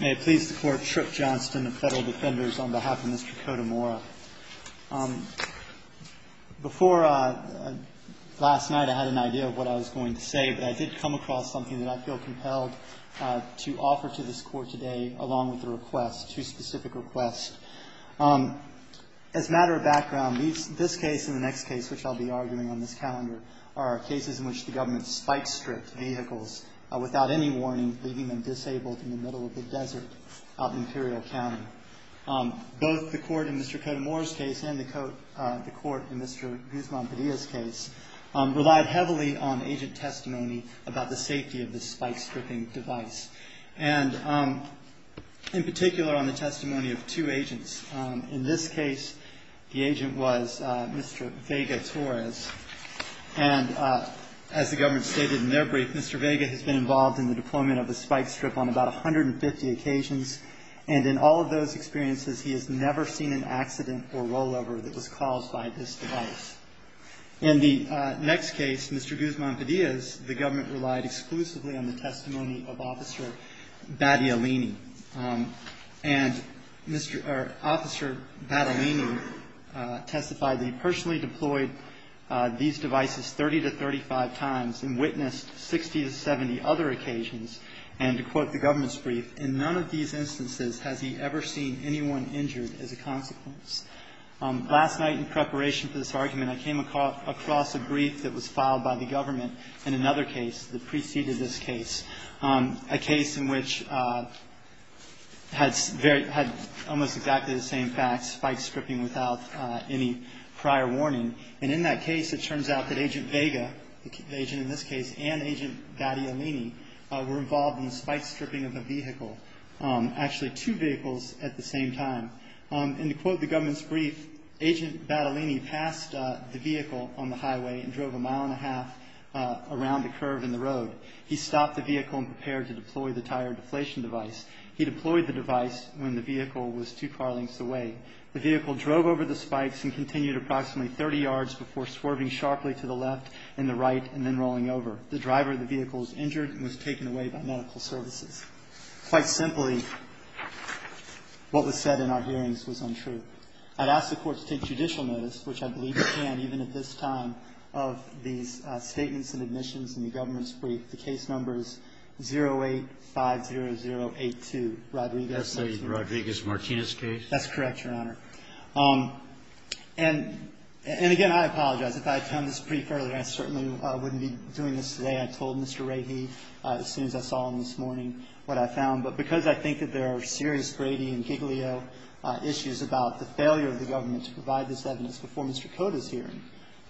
May it please the Court, Tripp Johnston of Federal Defenders, on behalf of Mr. Cota-Mora. Before, last night, I had an idea of what I was going to say, but I did come across something that I feel compelled to offer to this Court today, along with a request, two specific requests. As a matter of background, this case and the next case, which I'll be arguing on this calendar, are cases in which the government spike-stripped vehicles without any warning, leaving them disabled in the middle of the desert of Imperial County. Both the Court in Mr. Cota-Mora's case and the Court in Mr. Guzman-Padilla's case relied heavily on agent testimony about the safety of the spike-stripping device. And in particular, on the testimony of two agents. In this case, the agent was Mr. Vega-Torres. And as the government stated in their brief, Mr. Vega has been involved in the deployment of the spike-strip on about 150 occasions. And in all of those experiences, he has never seen an accident or rollover that was caused by this device. In the next case, Mr. Guzman-Padilla's, the government relied exclusively on the testimony of Officer Battaglini. And Mr. or Officer Battaglini testified that he personally deployed these devices 30 to 35 times and witnessed 60 to 70 other occasions. And to quote the government's brief, in none of these instances has he ever seen anyone injured as a consequence. Last night, in preparation for this argument, I came across a brief that was filed by the government in another case that preceded this case. A case in which had almost exactly the same facts, spike-stripping without any prior warning. And in that case, it turns out that Agent Vega, the agent in this case, and Agent Battaglini were involved in the spike-stripping of the vehicle. Actually, two vehicles at the same time. And to quote the government's brief, Agent Battaglini passed the vehicle on the highway and drove a mile and a half around the curve in the road. He stopped the vehicle and prepared to deploy the tire deflation device. He deployed the device when the vehicle was two car lengths away. The vehicle drove over the spikes and continued approximately 30 yards before swerving sharply to the left and the right and then rolling over. The driver of the vehicle was injured and was taken away by medical services. Quite simply, what was said in our hearings was untrue. I'd ask the Court to take judicial notice, which I believe it can even at this time, of these statements and admissions in the government's brief. The case number is 0850082, Rodriguez. That's the Rodriguez-Martinez case? That's correct, Your Honor. And again, I apologize. If I had come to this brief earlier, I certainly wouldn't be doing this today. I told Mr. Rahe as soon as I saw him this morning what I found. But because I think that there are serious Brady and Giglio issues about the failure of the government to provide this evidence before Mr. Cota's hearing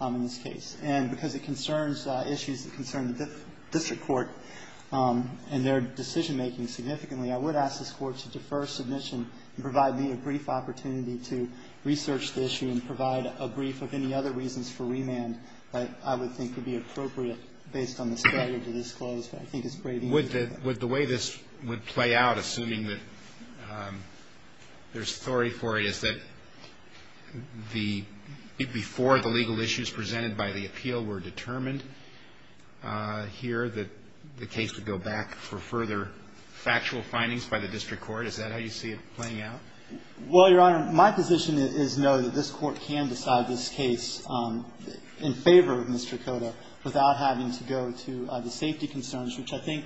in this case, and because it concerns issues that concern the district court and their decision-making significantly, I would ask this Court to defer submission and provide me a brief opportunity to research the issue and provide a brief of any other reasons for remand that I would think would be appropriate based on the strategy disclosed. I think it's Brady. Would the way this would play out, assuming that there's authority for it, is that before the legal issues presented by the appeal were determined here, that the case would go back for further factual findings by the district court? Is that how you see it playing out? Well, Your Honor, my position is, no, that this Court can decide this case in favor of Mr. Cota without having to go to the safety concerns, which I think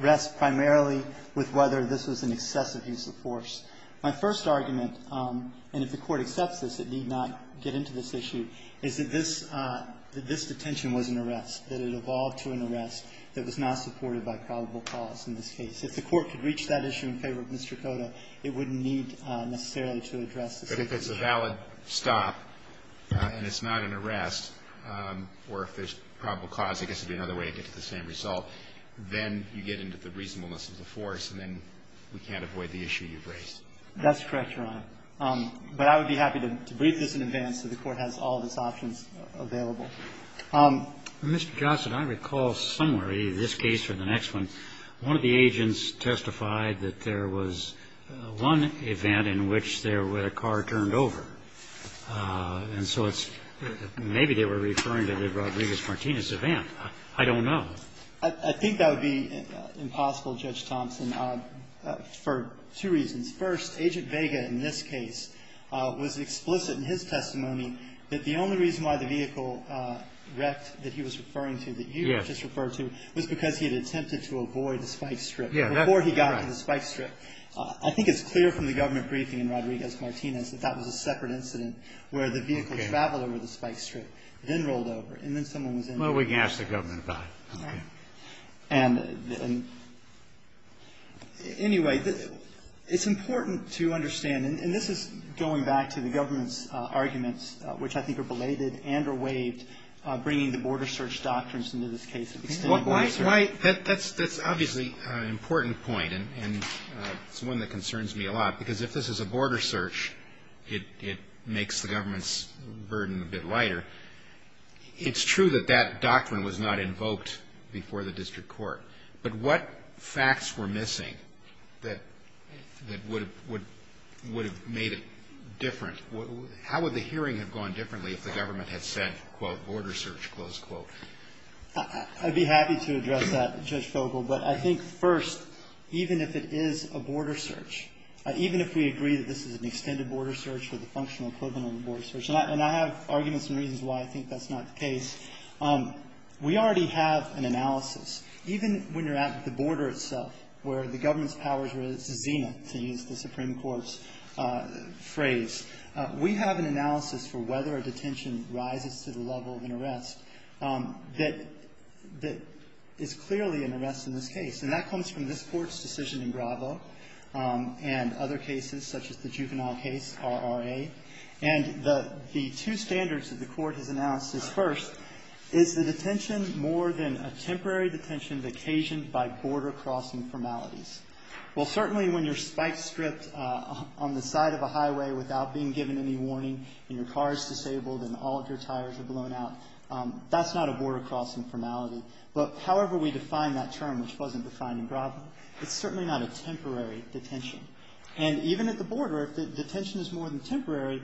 rest primarily with whether this was an excessive use of force. My first argument, and if the Court accepts this, it need not get into this issue, is that this detention was an arrest, that it evolved to an arrest that was not supported by probable cause in this case. If the Court could reach that issue in favor of Mr. Cota, it wouldn't need necessarily to address the safety issue. But if it's a valid stop and it's not an arrest, or if there's probable cause, I guess it would be another way to get to the same result, then you get into the reasonableness of the force, and then we can't avoid the issue you've raised. That's correct, Your Honor. But I would be happy to brief this in advance so the Court has all of its options available. Mr. Johnson, I recall somewhere, either this case or the next one, one of the agents testified that there was one event in which there was a car turned over. And so it's – maybe they were referring to the Rodriguez-Martinez event. I don't know. I think that would be impossible, Judge Thompson, for two reasons. First, Agent Vega in this case was explicit in his testimony that the only reason why the vehicle wrecked that he was referring to, that you had just referred to, was because he had attempted to avoid the spike strip before he got to the spike strip. I think it's clear from the government briefing in Rodriguez-Martinez that that was a separate incident where the vehicle traveled over the spike strip, then rolled over, and then someone was injured. Well, we can ask the government about it. All right. And anyway, it's important to understand – and this is going back to the government's and or waived bringing the border search doctrines into this case. Why – that's obviously an important point, and it's one that concerns me a lot, because if this is a border search, it makes the government's burden a bit lighter. It's true that that doctrine was not invoked before the district court, but what facts were missing that would have made it different? How would the hearing have gone differently if the government had said, quote, border search, close quote? I'd be happy to address that, Judge Fogel, but I think, first, even if it is a border search, even if we agree that this is an extended border search or the functional equivalent of a border search, and I have arguments and reasons why I think that's not the case, we already have an analysis. Even when you're at the border itself, where the government's powers were – it's Zenith, to use the Supreme Court's phrase. We have an analysis for whether a detention rises to the level of an arrest that is clearly an arrest in this case, and that comes from this Court's decision in Gravo and other cases such as the Juvenile Case, RRA. And the two standards that the Court has announced is, first, is the detention more than a temporary detention occasioned by border-crossing formalities? Well, certainly when you're spike-stripped on the side of a highway without being given any warning and your car is disabled and all of your tires are blown out, that's not a border-crossing formality. But however we define that term, which wasn't defined in Gravo, it's certainly not a temporary detention. And even at the border, if the detention is more than temporary,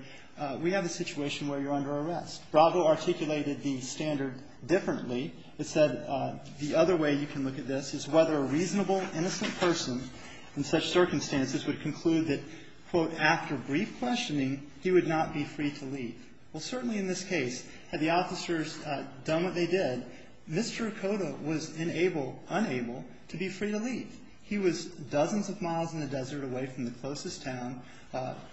we have a situation where you're under arrest. Gravo articulated the standard differently. It said the other way you can look at this is whether a reasonable, innocent person in such circumstances would conclude that, quote, after brief questioning he would not be free to leave. Well, certainly in this case, had the officers done what they did, Mr. Okoda was unable to be free to leave. He was dozens of miles in the desert away from the closest town.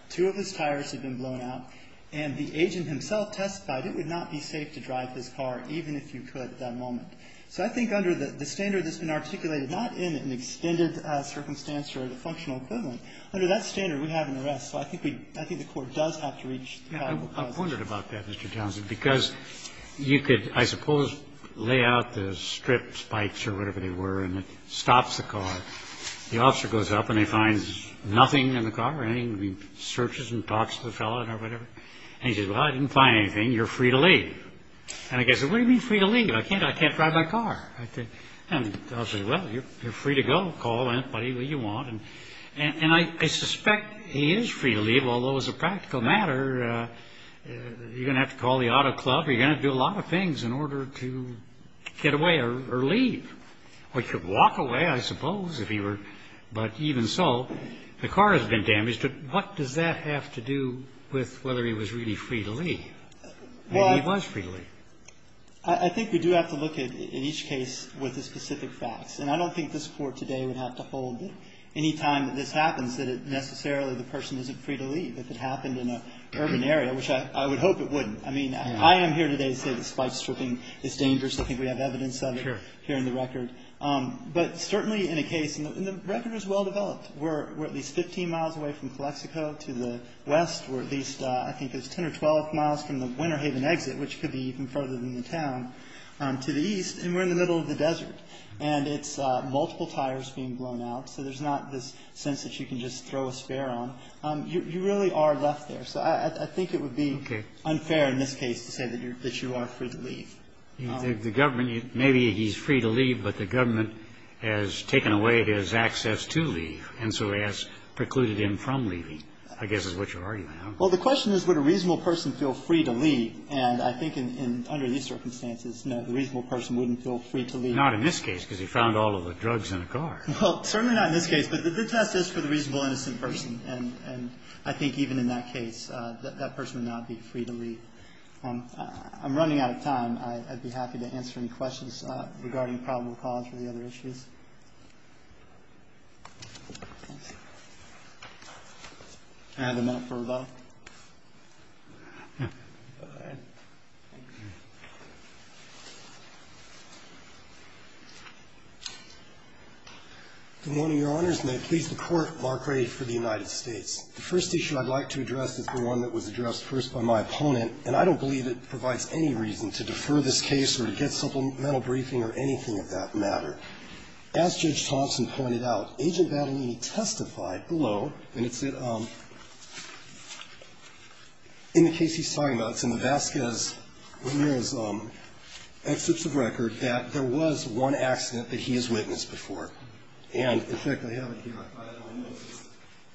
Two of his tires had been blown out, and the agent himself testified it would not be safe to drive his car even if you could at that moment. So I think under the standard that's been articulated, not in an extended circumstance or the functional equivalent, under that standard we have an arrest. So I think we – I think the court does have to reach that. Yeah. I wondered about that, Mr. Townsend, because you could, I suppose, lay out the strip spikes or whatever they were, and it stops the car. The officer goes up and he finds nothing in the car. He searches and talks to the fellow or whatever. And he says, well, I didn't find anything. You're free to leave. And the guy says, what do you mean free to leave? I can't drive my car. And the officer says, well, you're free to go. Call anybody you want. And I suspect he is free to leave, although as a practical matter you're going to have to call the auto club or you're going to have to do a lot of things in order to get away or leave. Or you could walk away, I suppose, if you were. But even so, the car has been damaged. But what does that have to do with whether he was really free to leave? I mean, he was free to leave. Well, I think we do have to look at each case with the specific facts. And I don't think this Court today would have to hold that any time that this happens that it necessarily the person isn't free to leave. If it happened in an urban area, which I would hope it wouldn't. I mean, I am here today to say that spike stripping is dangerous. I think we have evidence of it here in the record. Sure. But certainly in a case, and the record is well developed. We're at least 15 miles away from Calexico to the west. We're at least, I think it's 10 or 12 miles from the Winter Haven exit, which could be even further than the town, to the east. And we're in the middle of the desert. And it's multiple tires being blown out. So there's not this sense that you can just throw a spare on. You really are left there. So I think it would be unfair in this case to say that you are free to leave. The government, maybe he's free to leave, but the government has taken away his access to leave, and so has precluded him from leaving, I guess is what you're arguing. Well, the question is, would a reasonable person feel free to leave? And I think under these circumstances, no, the reasonable person wouldn't feel free to leave. Not in this case, because he found all of the drugs in a car. Well, certainly not in this case. But the test is for the reasonable, innocent person. And I think even in that case, that person would not be free to leave. I'm running out of time. I'd be happy to answer any questions regarding probable cause or the other issues. I have a minute for rebuttal. Go ahead. Good morning, Your Honors. May it please the Court, Mark Ray for the United States. The first issue I'd like to address is the one that was addressed first by my opponent. And I don't believe it provides any reason to defer this case or to get supplemental briefing or anything of that matter. As Judge Thompson pointed out, Agent Battaglini testified below, and it's in the case he's talking about, it's in the Vasquez, Ramirez excerpts of record, that there was one accident that he has witnessed before. And, in fact, I have it here.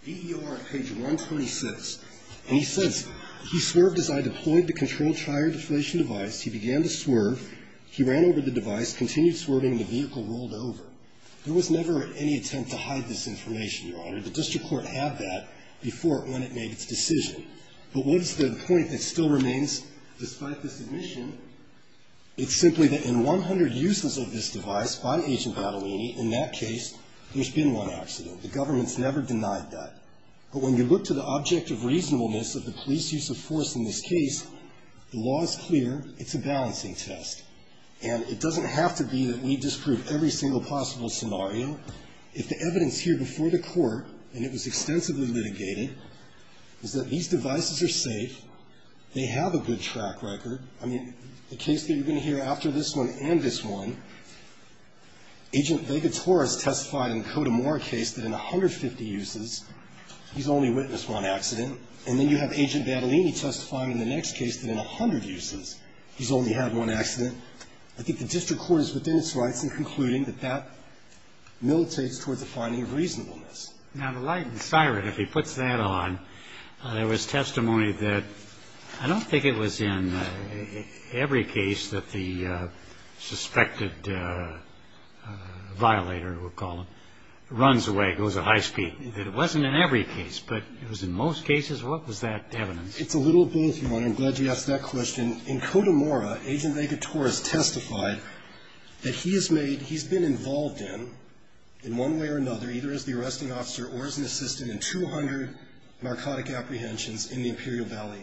V.E.O.R., page 126. And he says, He swerved as I deployed the control tire deflation device. He began to swerve. He ran over the device, continued swerving, and the vehicle rolled over. There was never any attempt to hide this information, Your Honor. The district court had that before it went and made its decision. But what is the point that still remains despite this admission? It's simply that in 100 uses of this device by Agent Battaglini, in that case, there's never been one accident. The government's never denied that. But when you look to the object of reasonableness of the police use of force in this case, the law is clear. It's a balancing test. And it doesn't have to be that we disprove every single possible scenario. If the evidence here before the court, and it was extensively litigated, is that these devices are safe, they have a good track record. I mean, the case that you're going to hear after this one and this one, Agent Begatora's testified in the Cotamora case that in 150 uses, he's only witnessed one accident. And then you have Agent Battaglini testifying in the next case that in 100 uses, he's only had one accident. I think the district court is within its rights in concluding that that militates towards a finding of reasonableness. Now, the light and siren, if he puts that on, there was testimony that I don't think it was in every case that the suspected violator, we'll call him, runs away, goes to high speed. It wasn't in every case, but it was in most cases. What was that evidence? It's a little both, Your Honor. I'm glad you asked that question. In Cotamora, Agent Begatora has testified that he has made, he's been involved in, in one way or another, either as the arresting officer or as an assistant in narcotic apprehensions in the Imperial Valley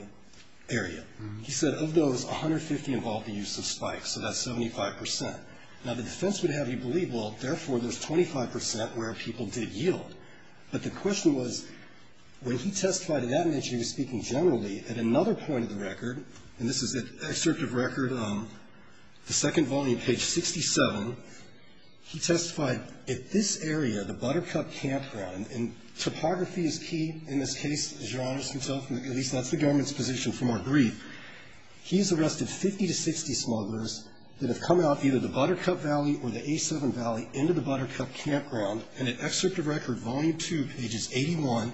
area. He said of those, 150 involved the use of spikes, so that's 75%. Now, the defense would have you believe, well, therefore, there's 25% where people did yield. But the question was, when he testified in that niche, he was speaking generally at another point of the record, and this is an excerpt of record, the second volume, page 67. He testified, at this area, the Buttercup Campground, and topography is key in this case, as Your Honor can tell from the, at least that's the government's position from our brief. He has arrested 50 to 60 smugglers that have come out either the Buttercup Valley or the A7 Valley into the Buttercup Campground. In an excerpt of record, volume two, pages 81,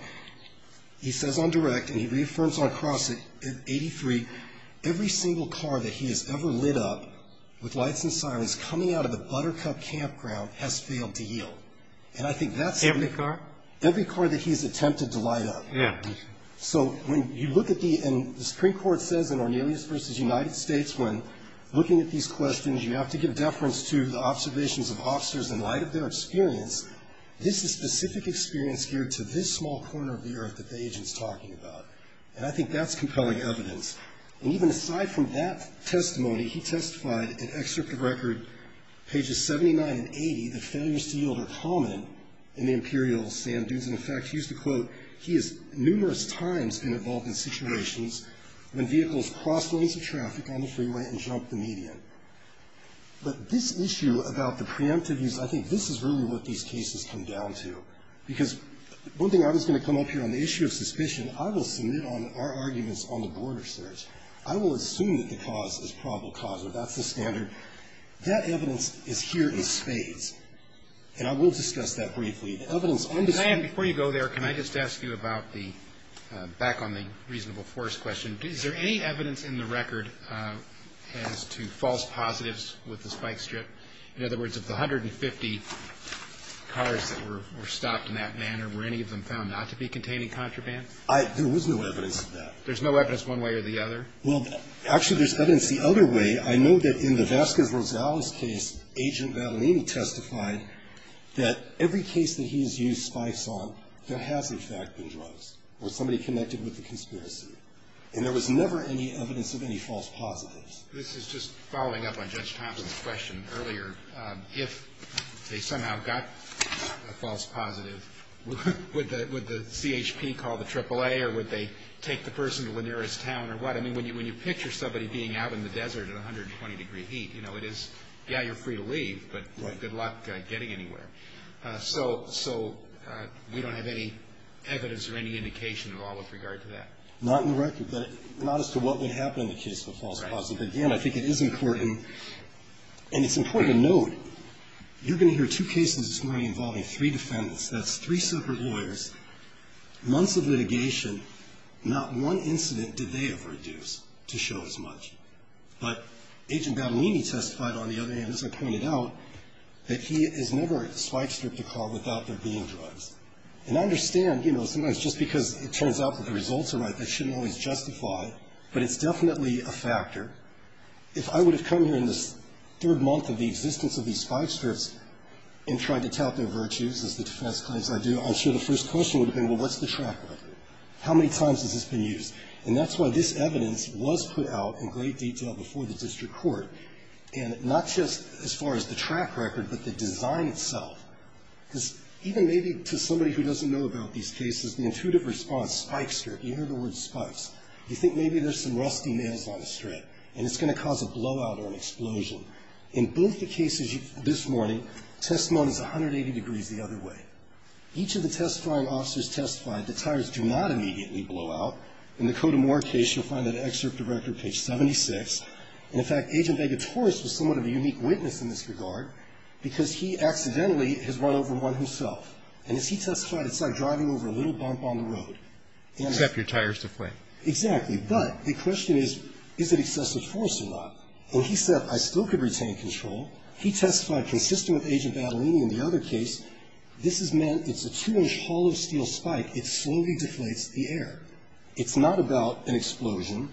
he says on direct, and he reaffirms on cross at 83, every single car that he has ever lit up with lights and sirens coming out of the Buttercup Campground has failed to yield. And I think that's. Every car? Every car that he's attempted to light up. Yeah. So, when you look at the, and the Supreme Court says in Ornelius v. United States, when looking at these questions, you have to give deference to the observations of officers in light of their experience. This is specific experience geared to this small corner of the earth that the agent's talking about. And I think that's compelling evidence. And even aside from that testimony, he testified in excerpt of record pages 79 and 80, that failures to yield are common in the Imperial Sand Dunes. And in fact, he used to quote, he has numerous times been involved in situations when vehicles crossed lanes of traffic on the freeway and jumped the median. But this issue about the preemptive use, I think this is really what these cases come down to. Because one thing I was going to come up here on the issue of suspicion, I will assume that the cause is probable cause. That's the standard. That evidence is here in spades. And I will discuss that briefly. The evidence on this case. May I, before you go there, can I just ask you about the, back on the reasonable force question. Is there any evidence in the record as to false positives with the spike strip? In other words, of the 150 cars that were stopped in that manner, were any of them found not to be containing contraband? There was no evidence of that. There's no evidence one way or the other? Well, actually, there's evidence the other way. I know that in the Vasquez-Rosales case, Agent Vallinini testified that every case that he has used spikes on, there has, in fact, been drugs or somebody connected with the conspiracy. And there was never any evidence of any false positives. This is just following up on Judge Thompson's question earlier. If they somehow got a false positive, would the CHP call the AAA or would they take the person to the nearest town or what? I mean, when you picture somebody being out in the desert at 120-degree heat, you know, it is, yeah, you're free to leave, but good luck getting anywhere. So we don't have any evidence or any indication at all with regard to that. Not in the record, but not as to what would happen in the case of a false positive. Again, I think it is important, and it's important to note, you're going to hear two cases this morning involving three defendants. That's three separate lawyers, months of litigation. Not one incident did they ever do to show as much. But Agent Vallinini testified, on the other hand, as I pointed out, that he has never spike-stripped a car without there being drugs. And I understand, you know, sometimes just because it turns out that the results are right, that shouldn't always justify, but it's definitely a factor. If I would have come here in this third month of the existence of these spike-strips and tried to tout their virtues, as the defense claims I do, I'm sure the first question would have been, well, what's the track record? How many times has this been used? And that's why this evidence was put out in great detail before the district court. And not just as far as the track record, but the design itself. Because even maybe to somebody who doesn't know about these cases, the intuitive response, spike-strip, you hear the word spikes. You think maybe there's some rusty nails on a strip, and it's going to cause a blowout or an explosion. In both the cases this morning, testimony is 180 degrees the other way. Each of the test-flying officers testified that tires do not immediately blow out. In the Cotamore case, you'll find that in excerpt of record, page 76. And in fact, Agent Vega-Torres was somewhat of a unique witness in this regard, because he accidentally has run over one himself. And as he testified, it's like driving over a little bump on the road. And as he testified, it's like driving over a little bump on the road. And as he testified, it's like driving over a little bump on the road. Except your tire is deflating. Exactly. But the question is, is it excessive force or not? And he said, I still could retain control. He testified consistent with Agent Badalini in the other case, this has meant it's a two-inch hollow steel spike. It slowly deflates the air. It's not about an explosion.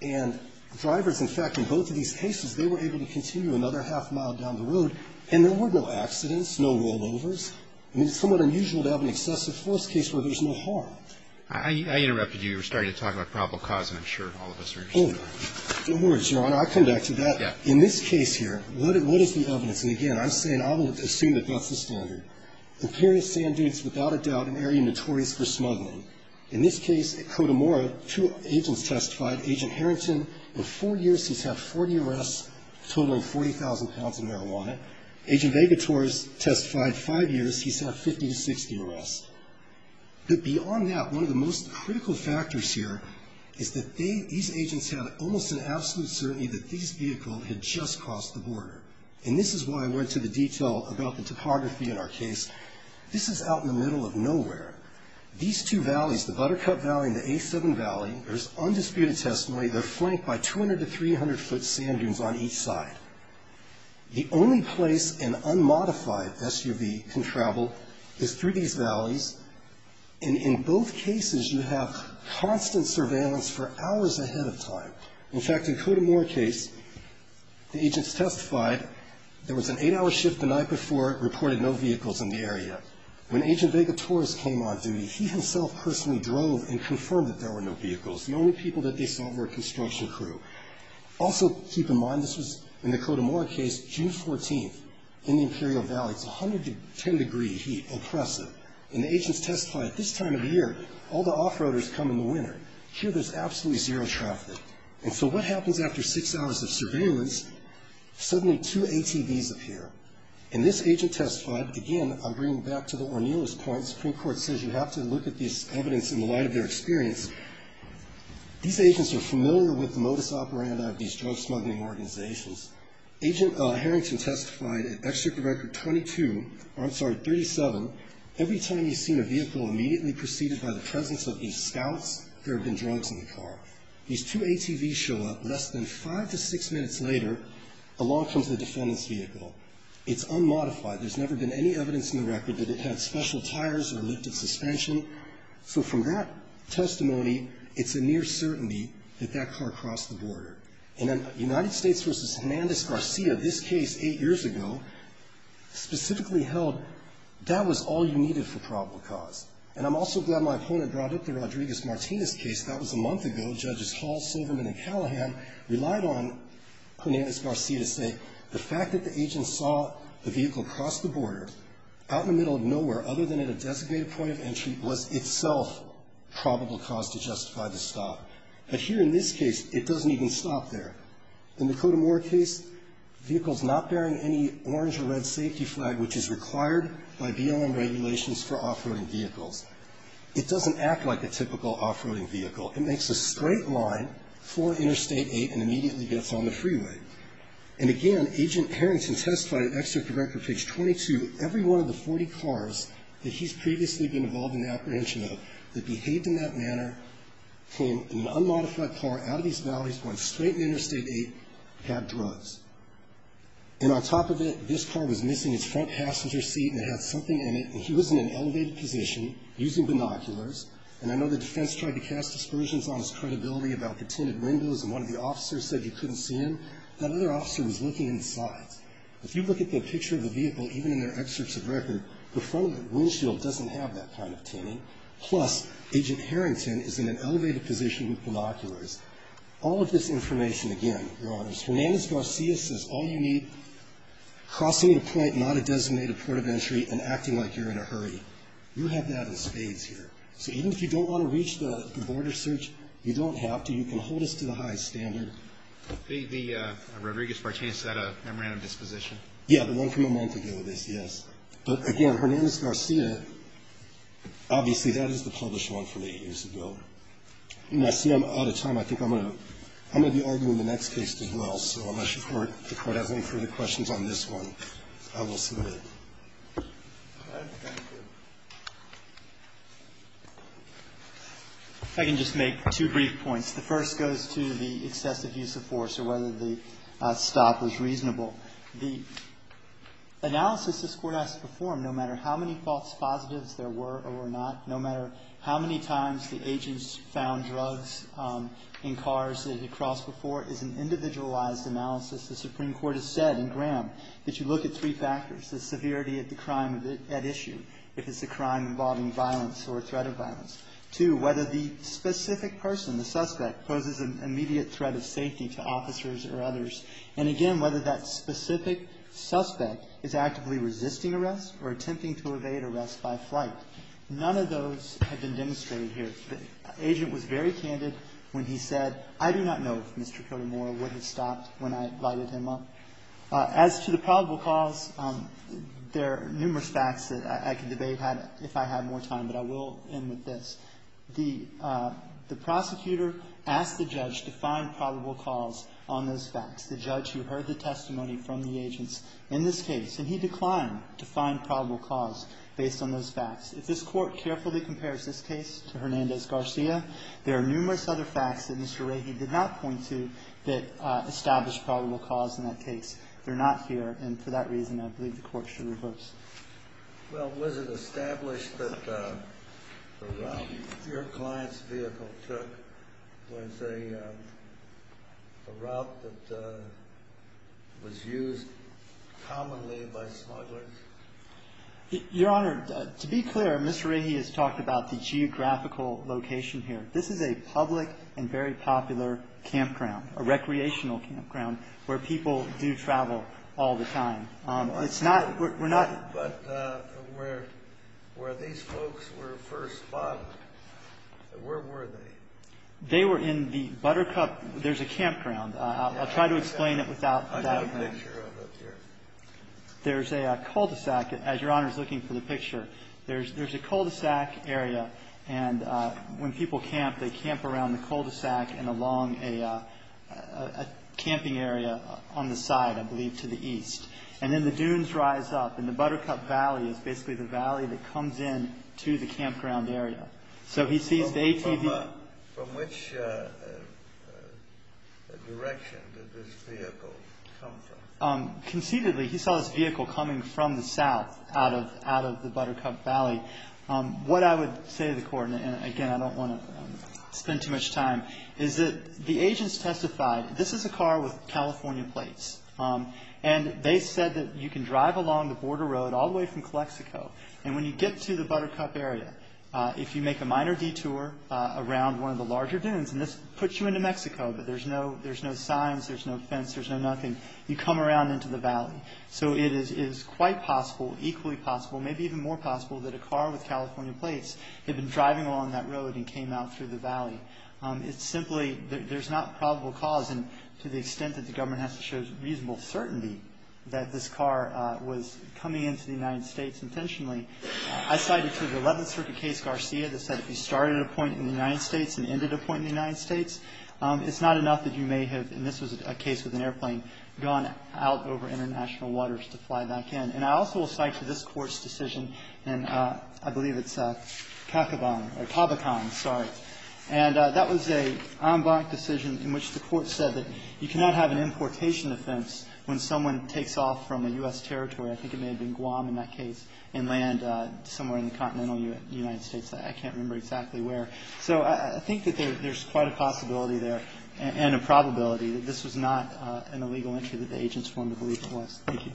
And drivers, in fact, in both of these cases, they were able to continue another half-mile down the road, and there were no accidents, no rollovers. I mean, it's somewhat unusual to have an excessive force case where there's no harm. I interrupted you. You were starting to talk about probable cause, and I'm sure all of us are interested. Oh, no worries, Your Honor. I'll come back to that. In this case here, what is the evidence? And, again, I'm saying I will assume that that's the standard. Imperial Sand Dunes, without a doubt, an area notorious for smuggling. In this case at Cotamora, two agents testified, Agent Harrington. In four years, he's had 40 arrests, totaling 40,000 pounds of marijuana. Agent Vegator has testified five years, he's had 50 to 60 arrests. But beyond that, one of the most critical factors here is that they, these agents had almost an absolute certainty that these vehicles had just crossed the border. And this is why I went to the detail about the topography in our case. This is out in the middle of nowhere. These two valleys, the Buttercup Valley and the A7 Valley, there's undisputed testimony. They're flanked by 200 to 300-foot sand dunes on each side. The only place an unmodified SUV can travel is through these valleys. And in both cases, you have constant surveillance for hours ahead of time. In fact, in Cotamora case, the agents testified there was an eight-hour shift the night before, reported no vehicles in the area. When Agent Vegator's came on duty, he himself personally drove and confirmed that there were no vehicles. The only people that they saw were a construction crew. Also, keep in mind, this was in the Cotamora case, June 14th, in the Imperial Valley. It's 110 degree heat, oppressive. And the agents testified, this time of year, all the off-roaders come in the winter. Here, there's absolutely zero traffic. And so what happens after six hours of surveillance? Suddenly, two ATVs appear. And this agent testified, again, I'm bringing back to the Ornillo's point, Supreme Court says you have to look at this evidence in the light of their experience. These agents are familiar with the modus operandi of these drug smuggling organizations. Agent Harrington testified at Exchequer Record 22, or I'm sorry, 37, every time he's seen a vehicle immediately preceded by the presence of a scout, there have been drugs in the car. These two ATVs show up less than five to six minutes later, along comes the defendant's vehicle. It's unmodified. There's never been any evidence in the record that it had special tires or lifted suspension. So from that testimony, it's a near certainty that that car crossed the border. In a United States v. Hernandez-Garcia, this case eight years ago, specifically held that was all you needed for probable cause. And I'm also glad my opponent brought up the Rodriguez-Martinez case. That was a month ago. Judges Hall, Silverman, and Callahan relied on Hernandez-Garcia to say the fact that the agent saw the vehicle cross the border out in the middle of nowhere, other than at a designated point of entry, was itself probable cause to justify the stop. But here in this case, it doesn't even stop there. In the Kodemore case, the vehicle's not bearing any orange or red safety flag, which is required by BLM regulations for off-roading vehicles. It doesn't act like a typical off-roading vehicle. It makes a straight line for Interstate 8 and immediately gets on the freeway. And again, Agent Harrington testified at Executive Record page 22, every one of the 40 cars that he's previously been involved in the apprehension of that behaved in that manner, came in an unmodified car out of these valleys, going straight into Interstate 8, had drugs. And on top of it, this car was missing its front passenger seat and it had something in it, and he was in an elevated position using binoculars. And I know the defense tried to cast aspersions on his credibility about the tinted windows and one of the officers said you couldn't see him. That other officer was looking inside. If you look at the picture of the vehicle, even in their excerpts of record, the front windshield doesn't have that kind of tinting. Plus, Agent Harrington is in an elevated position with binoculars. All of this information, again, Your Honors, Hernandez-Garcia says all you need, crossing the point, not a designated port of entry, and acting like you're in a hurry. You have that in spades here. So even if you don't want to reach the border search, you don't have to. You can hold us to the high standard. Roberts. The Rodriguez-Martinez at a memorandum disposition? Yeah, the one from a month ago, this, yes. But again, Hernandez-Garcia, obviously, that is the published one from eight years ago. And I see I'm out of time. I think I'm going to be arguing the next case as well. So unless the Court has any further questions on this one, I will submit. All right. Thank you. I can just make two brief points. The first goes to the excessive use of force or whether the stop was reasonable. The analysis this Court has to perform, no matter how many false positives there were or were not, no matter how many times the agents found drugs in cars that they had crossed before, is an individualized analysis. The Supreme Court has said in Graham that you look at three factors, the severity of the crime at issue, if it's a crime involving violence or a threat of violence. Two, whether the specific person, the suspect, poses an immediate threat of safety to officers or others. And again, whether that specific suspect is actively resisting arrest or attempting to evade arrest by flight. None of those have been demonstrated here. The agent was very candid when he said, I do not know if Mr. Cody Moore would have stopped when I lighted him up. As to the probable cause, there are numerous facts that I could debate if I had more time, but I will end with this. The prosecutor asked the judge to find probable cause on those facts. The judge who heard the testimony from the agents in this case, and he declined to find probable cause based on those facts. If this Court carefully compares this case to Hernandez-Garcia, there are numerous other facts that Mr. Rahe did not point to that established probable cause in that case. They're not here, and for that reason, I believe the Court should reverse. Well, was it established that the route your client's vehicle took was a route that was used commonly by smugglers? Your Honor, to be clear, Mr. Rahe has talked about the geographical location here. This is a public and very popular campground, a recreational campground, where people do travel all the time. But where these folks were first spotted, where were they? They were in the Buttercup. There's a campground. I'll try to explain it without that. I've got a picture of it here. There's a cul-de-sac, as Your Honor is looking for the picture. There's a cul-de-sac area, and when people camp, they camp around the cul-de-sac and along a camping area on the side, I believe, to the east. And then the dunes rise up, and the Buttercup Valley is basically the valley that comes in to the campground area. So he sees the ATV. From which direction did this vehicle come from? Conceitedly, he saw this vehicle coming from the south out of the Buttercup Valley. What I would say to the Court, and again, I don't want to spend too much time, is that the agents testified, this is a car with California plates. And they said that you can drive along the border road all the way from Calexico, and when you get to the Buttercup area, if you make a minor detour around one of the larger dunes, and this puts you into Mexico, but there's no signs, there's no fence, so it is quite possible, equally possible, maybe even more possible that a car with California plates had been driving along that road and came out through the valley. It's simply, there's not probable cause, and to the extent that the government has to show reasonable certainty that this car was coming into the United States intentionally, I cited the 11th Circuit case Garcia that said if you started a point in the United States and ended a point in the United States, it's not enough that you had gone out over international waters to fly back in. And I also will cite to this Court's decision, and I believe it's Cacaban or Cabacan, sorry, and that was an en banc decision in which the Court said that you cannot have an importation offense when someone takes off from a U.S. territory, I think it may have been Guam in that case, and land somewhere in the continental United States. I can't remember exactly where. So I think that there's quite a possibility there and a probability that this was not an illegal entry that the agents wanted to believe it was. Thank you.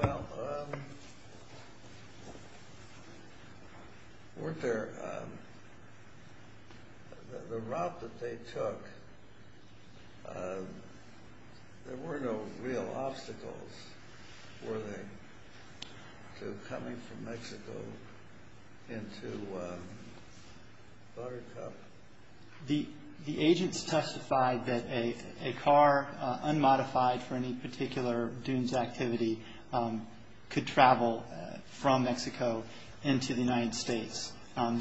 Well, weren't there, the route that they took, there were no real obstacles, were they, to coming from Mexico into Buttercup? The agents testified that a car, unmodified for any particular dunes activity, could travel from Mexico into the United States.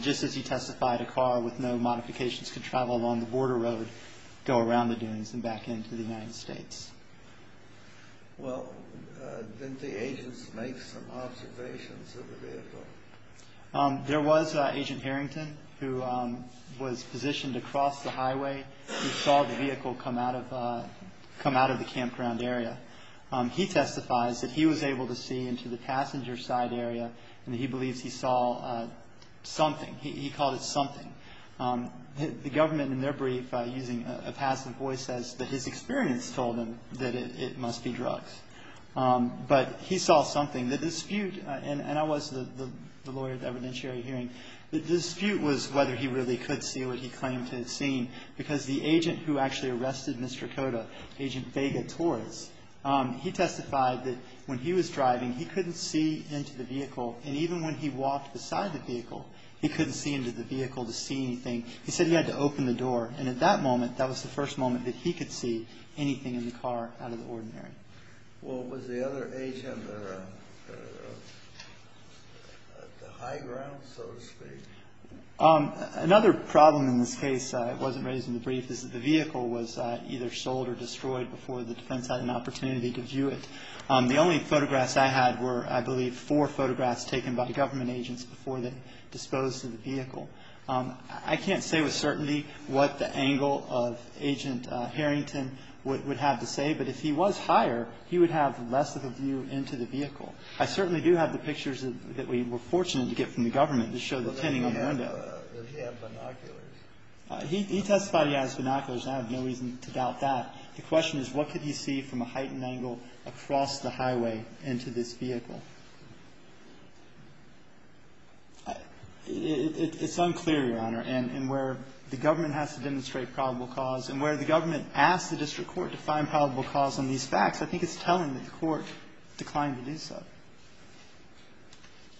Just as he testified, a car with no modifications could travel along the border road, go around the dunes and back into the United States. Well, didn't the agents make some observations of the vehicle? There was Agent Harrington who was positioned across the highway who saw the vehicle come out of the campground area. He testifies that he was able to see into the passenger side area and he believes he saw something. He called it something. The government, in their brief, using a passive voice, says that his experience told him that it must be drugs. But he saw something. The dispute, and I was the lawyer at the evidentiary hearing, the dispute was whether he really could see what he claimed to have seen because the agent who actually arrested Mr. Cota, Agent Vega Torres, he testified that when he was driving, he couldn't see into the vehicle. And even when he walked beside the vehicle, he couldn't see into the vehicle to see anything. He said he had to open the door. And at that moment, that was the first moment that he could see anything in the car out of the ordinary. Well, was the other agent at the high ground, so to speak? Another problem in this case, it wasn't raised in the brief, is that the vehicle was either sold or destroyed before the defense had an opportunity to view it. The only photographs I had were, I believe, four photographs taken by the government agents before they disposed of the vehicle. I can't say with certainty what the angle of Agent Harrington would have to say, but if he was higher, he would have less of a view into the vehicle. I certainly do have the pictures that we were fortunate to get from the government to show the tinting on the window. Did he have binoculars? He testified he had his binoculars, and I have no reason to doubt that. The question is, what could he see from a heightened angle across the highway into this vehicle? It's unclear, Your Honor, in where the government has to demonstrate probable cause and where the government asked the district court to find probable cause on these facts. I think it's telling that the court declined to do so.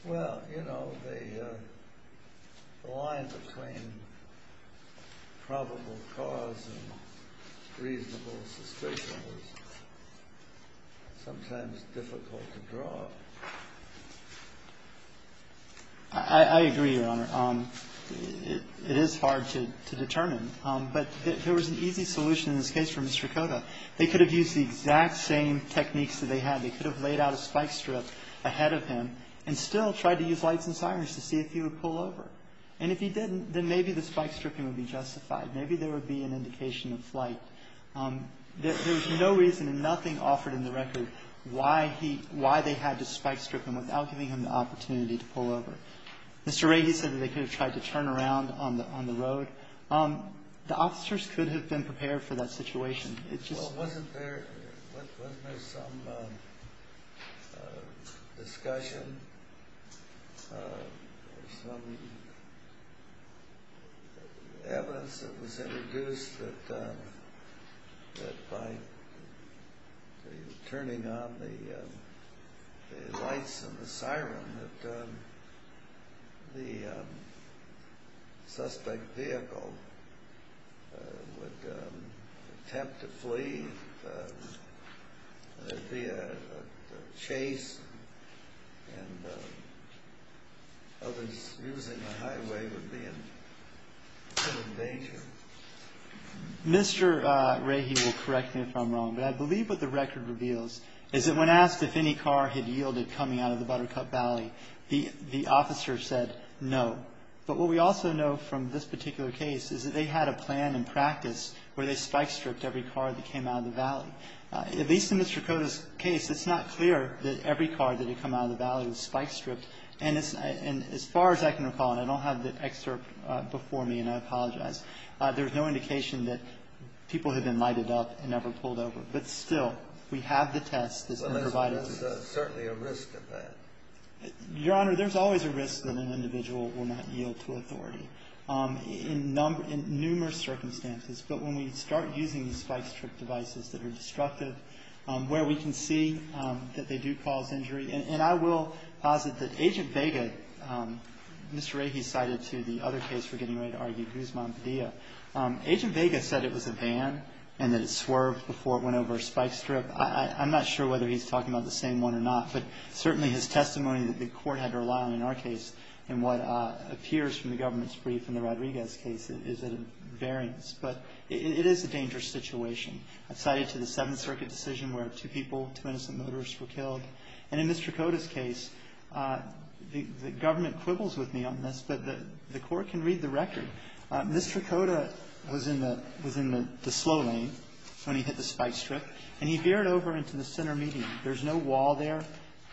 Well, you know, the line between probable cause and reasonable suspicion is sometimes difficult to draw. I agree, Your Honor. It is hard to determine, but there was an easy solution in this case for Mr. Koda. They could have used the exact same techniques that they had. They could have laid out a spike strip ahead of him and still tried to use lights and sirens to see if he would pull over. And if he didn't, then maybe the spike stripping would be justified. Maybe there would be an indication of flight. There was no reason and nothing offered in the record why they had to spike strip him without giving him the opportunity to pull over. Mr. Ragey said that they could have tried to turn around on the road. The officers could have been prepared for that situation. Well, wasn't there some discussion or some evidence that was introduced that by turning on the lights and the siren that the suspect vehicle would attempt to flee? That there would be a chase and others using the highway would be in danger? Mr. Ragey will correct me if I'm wrong, but I believe what the record reveals is that when asked if any car had yielded coming out of the Buttercup Valley, the officer said no. But what we also know from this particular case is that they had a plan in practice where they spike stripped every car that came out of the valley. At least in Mr. Koda's case, it's not clear that every car that had come out of the valley was spike stripped. And as far as I can recall, and I don't have the excerpt before me and I apologize, there's no indication that people had been lighted up and never pulled over. But still, we have the test that's been provided. Well, there's certainly a risk of that. Your Honor, there's always a risk that an individual will not yield to authority in numerous circumstances. But when we start using spike strip devices that are destructive, where we can see that they do cause injury, and I will posit that Agent Vega, Mr. Ragey cited to the other case for getting ready to argue Guzman-Padilla, Agent Vega said it was a van and that it swerved before it went over a spike strip. I'm not sure whether he's talking about the same one or not, but certainly his testimony that the Court had to rely on in our case and what appears from the government's brief in the Rodriguez case is at a variance. But it is a dangerous situation. I cited to the Seventh Circuit decision where two people, two innocent motorists were killed. And in Ms. Tricotta's case, the government quibbles with me on this, but the Court can read the record. Ms. Tricotta was in the slow lane when he hit the spike strip, and he veered over into the center median. There's no wall there,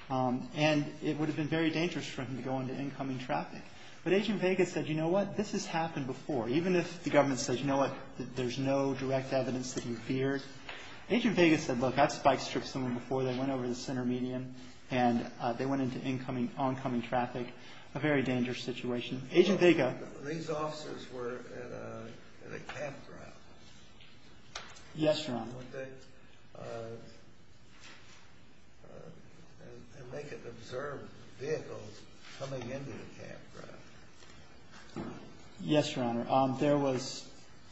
and it would have been very dangerous for him to go into incoming traffic. But Agent Vega said, you know what? This has happened before. Even if the government says, you know what? There's no direct evidence that he veered. Agent Vega said, look, that spike strip is somewhere before. They went over the center median, and they went into incoming, oncoming traffic. A very dangerous situation. Agent Vega. These officers were at a cab drive. Yes, Your Honor. And they could observe vehicles coming into the cab drive. Yes, Your Honor. There was,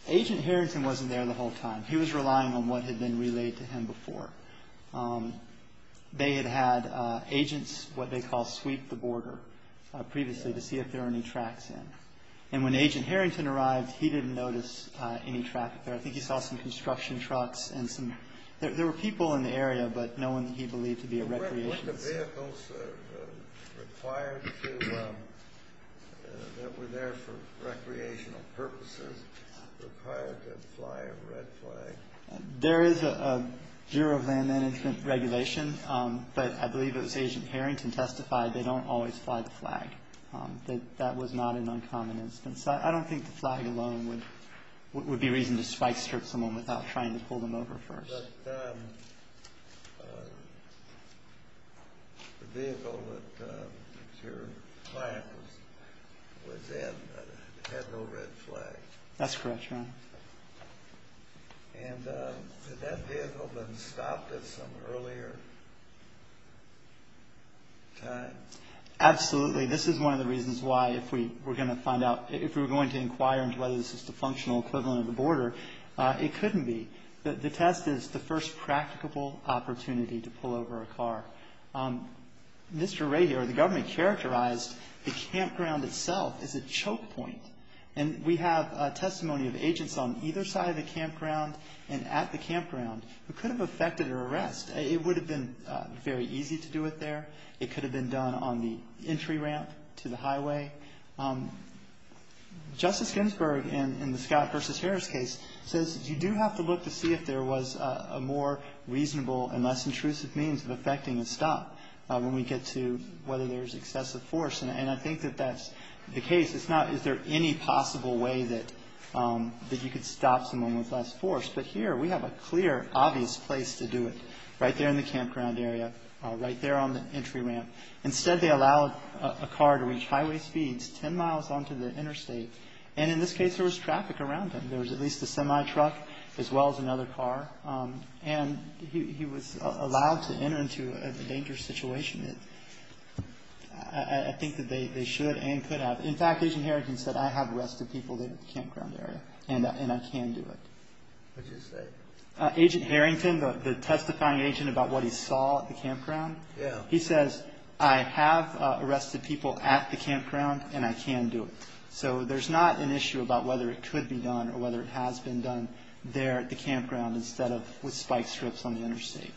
Agent Harrington wasn't there the whole time. He was relying on what had been relayed to him before. They had had agents what they call sweep the border previously to see if there were any tracks in. And when Agent Harrington arrived, he didn't notice any traffic there. I think he saw some construction trucks and some, there were people in the area, but no one he believed to be a recreationist. Were the vehicles required to, that were there for recreational purposes, required to fly a red flag? There is a Bureau of Land Management regulation, but I believe it was Agent Harrington testified they don't always fly the flag. That was not an uncommon instance. I don't think the flag alone would be reason to spike strip someone without trying to pull them over first. But the vehicle that your client was in had no red flag. That's correct, Your Honor. And had that vehicle been stopped at some earlier time? Absolutely. This is one of the reasons why if we were going to find out, if we were going to inquire into whether this is the functional equivalent of the border, it couldn't be. The test is the first practicable opportunity to pull over a car. Mr. Ray here, the government characterized the campground itself as a choke point. And we have testimony of agents on either side of the campground and at the campground who could have effected an arrest. It would have been very easy to do it there. It could have been done on the entry ramp to the highway. Justice Ginsburg, in the Scott v. Harris case, says you do have to look to see if there was a more reasonable and less intrusive means of effecting a stop when we get to whether there's excessive force. And I think that that's the case. It's not is there any possible way that you could stop someone with less force. But here we have a clear, obvious place to do it, right there in the campground area, right there on the entry ramp. Instead, they allowed a car to reach highway speeds 10 miles onto the interstate. And in this case, there was traffic around them. There was at least a semi-truck as well as another car. And he was allowed to enter into a dangerous situation. I think that they should and could have. In fact, Agent Harrington said, I have arrested people there at the campground area and I can do it. What did he say? Agent Harrington, the testifying agent about what he saw at the campground. Yes. He says, I have arrested people at the campground and I can do it. So there's not an issue about whether it could be done or whether it has been done there at the campground instead of with spike strips on the interstate.